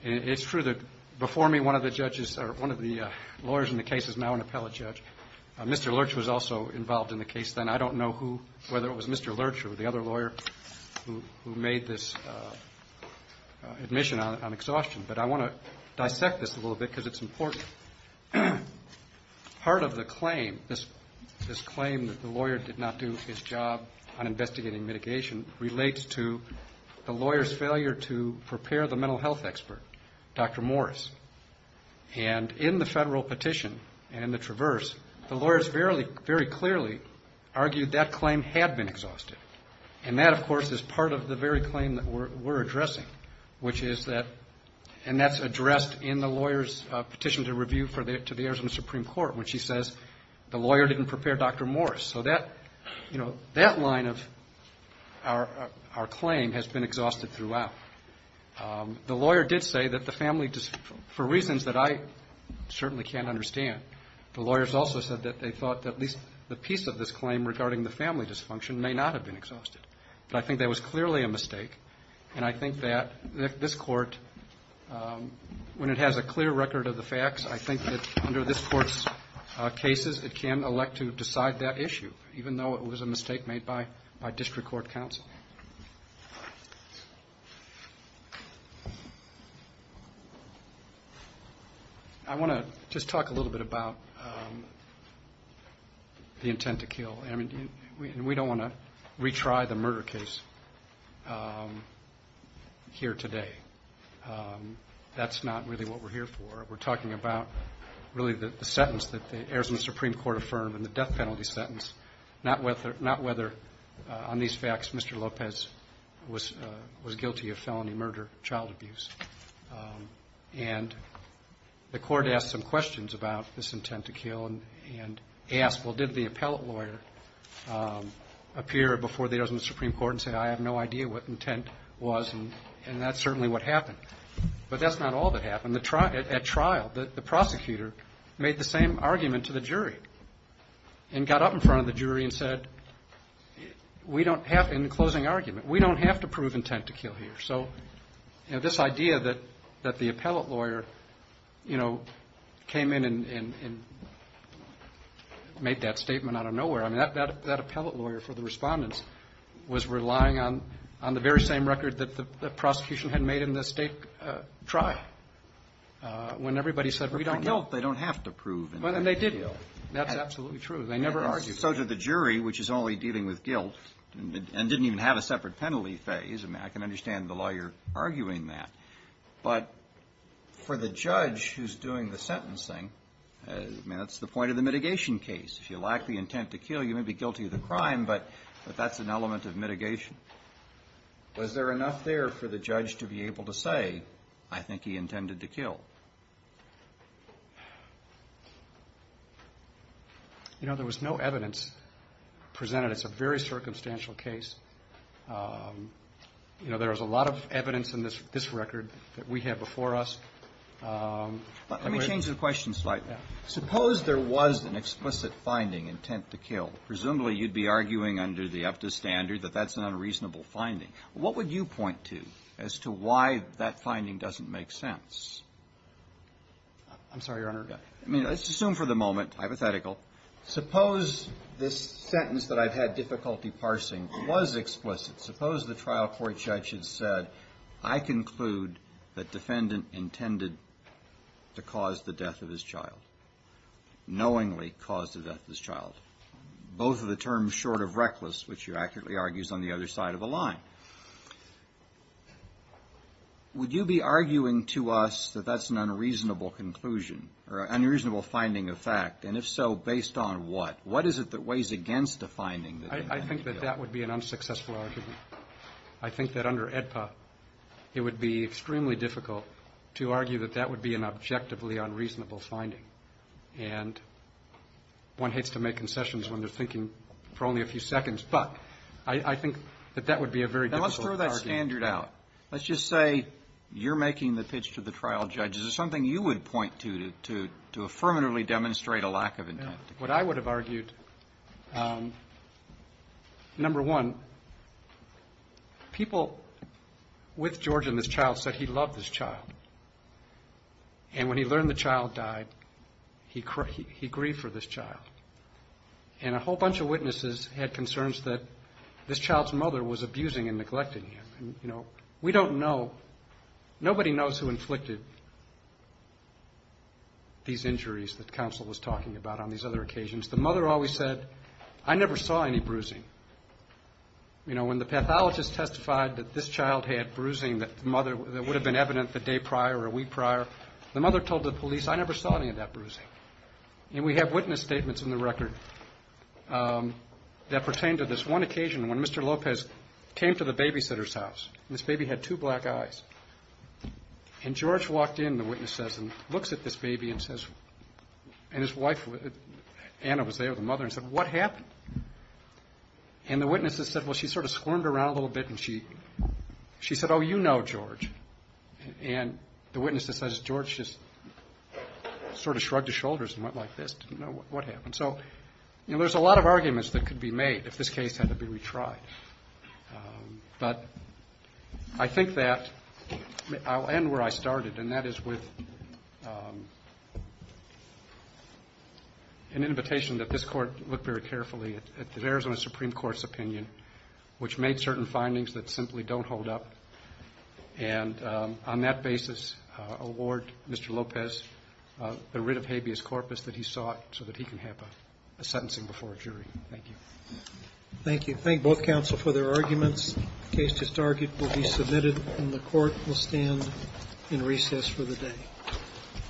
It's true that before me, one of the judges or one of the lawyers in the case is now an appellate judge. Mr. Lurch was also involved in the case then. I don't know who, whether it was Mr. Lurch or the other lawyer who made this admission on exhaustion, but I want to dissect this a little bit because it's important. Part of the claim, this claim that the lawyer did not do his job on investigating mitigation, relates to the lawyer's failure to prepare the mental health expert, Dr. Morris. And in the federal petition and in the traverse, the lawyers very clearly argued that claim had been exhausted. And that, of course, is part of the very claim that we're addressing, which is that, and that's addressed in the lawyer's petition to review to the Arizona Supreme Court when she says, the lawyer didn't prepare Dr. Morris. So that, you know, that line of our claim has been exhausted throughout. The lawyer did say that the family, for reasons that I certainly can't understand, the lawyers also said that they thought that at least the piece of this claim regarding the family dysfunction may not have been exhausted. But I think that was clearly a mistake, and I think that this court, when it has a clear record of the facts, I think that under this court's cases, it can elect to decide that issue, even though it was a mistake made by district court counsel. Thank you. I want to just talk a little bit about the intent to kill. I mean, we don't want to retry the murder case here today. That's not really what we're here for. We're talking about really the sentence that the Arizona Supreme Court affirmed and the death penalty sentence, not whether, on these facts, Mr. Lopez was guilty of felony murder, child abuse. And the court asked some questions about this intent to kill and asked, well, did the appellate lawyer appear before the Arizona Supreme Court and say, I have no idea what intent was, and that's certainly what happened. But that's not all that happened. I mean, the court did try when everybody said, we don't know. Well, they don't have to prove. Well, and they didn't. That's absolutely true. They never argued. So did the jury, which is only dealing with guilt and didn't even have a separate penalty phase. I mean, I can understand the lawyer arguing that. But for the judge who's doing the sentencing, I mean, that's the point of the mitigation case. If you lack the intent to kill, you may be guilty of the crime, but that's an element of mitigation. Was there enough there for the judge to be able to say, I think he intended to kill? You know, there was no evidence presented. It's a very circumstantial case. You know, there was a lot of evidence in this record that we have before us. Let me change the question slightly. Suppose there was an explicit finding, intent to kill. Presumably, you'd be arguing under the EFTA standard that that's an unreasonable finding. What would you point to as to why that finding doesn't make sense? I'm sorry, Your Honor. I mean, let's assume for the moment, hypothetical. Suppose this sentence that I've had difficulty parsing was explicit. Suppose the trial court judge had said, I conclude that defendant intended to cause the death of his child, knowingly cause the death of his child. Both of the terms short of reckless, which you accurately argue is on the other side of the line. Would you be arguing to us that that's an unreasonable conclusion or an unreasonable finding of fact? And if so, based on what? What is it that weighs against the finding? I think that that would be an unsuccessful argument. I think that under AEDPA, it would be extremely difficult to argue that that would be an objectively unreasonable finding. And one hates to make concessions when they're thinking for only a few seconds. But I think that that would be a very difficult argument. Now, let's throw that standard out. Let's just say you're making the pitch to the trial judge. Is there something you would point to to affirmatively demonstrate a lack of intent? What I would have argued, number one, people with George and this child said he loved this child. And when he learned the child died, he grieved for this child. And a whole bunch of witnesses had concerns that this child's mother was abusing and neglecting him. And, you know, we don't know, nobody knows who inflicted these injuries that counsel was talking about on these other occasions. The mother always said, I never saw any bruising. You know, when the pathologist testified that this child had bruising that would have been evident the day prior or a week prior, the mother told the police, I never saw any of that bruising. And we have witness statements in the record that pertain to this one occasion when Mr. Lopez came to the babysitter's house. And this baby had two black eyes. And George walked in, the witness says, and looks at this baby and says, and his wife, Anna was there, the mother, and said, what happened? And the witness said, well, she sort of squirmed around a little bit and she said, oh, you know George. And the witness says, George just sort of shrugged his shoulders and went like this, didn't know what happened. So, you know, there's a lot of arguments that could be made if this case had to be retried. But I think that I'll end where I started, and that is with an invitation that this Court looked very carefully at the Arizona Supreme Court's opinion, which made certain findings that simply don't hold up, and on that basis award Mr. Lopez the writ of habeas corpus that he sought so that he can have a sentencing before a jury. Thank you.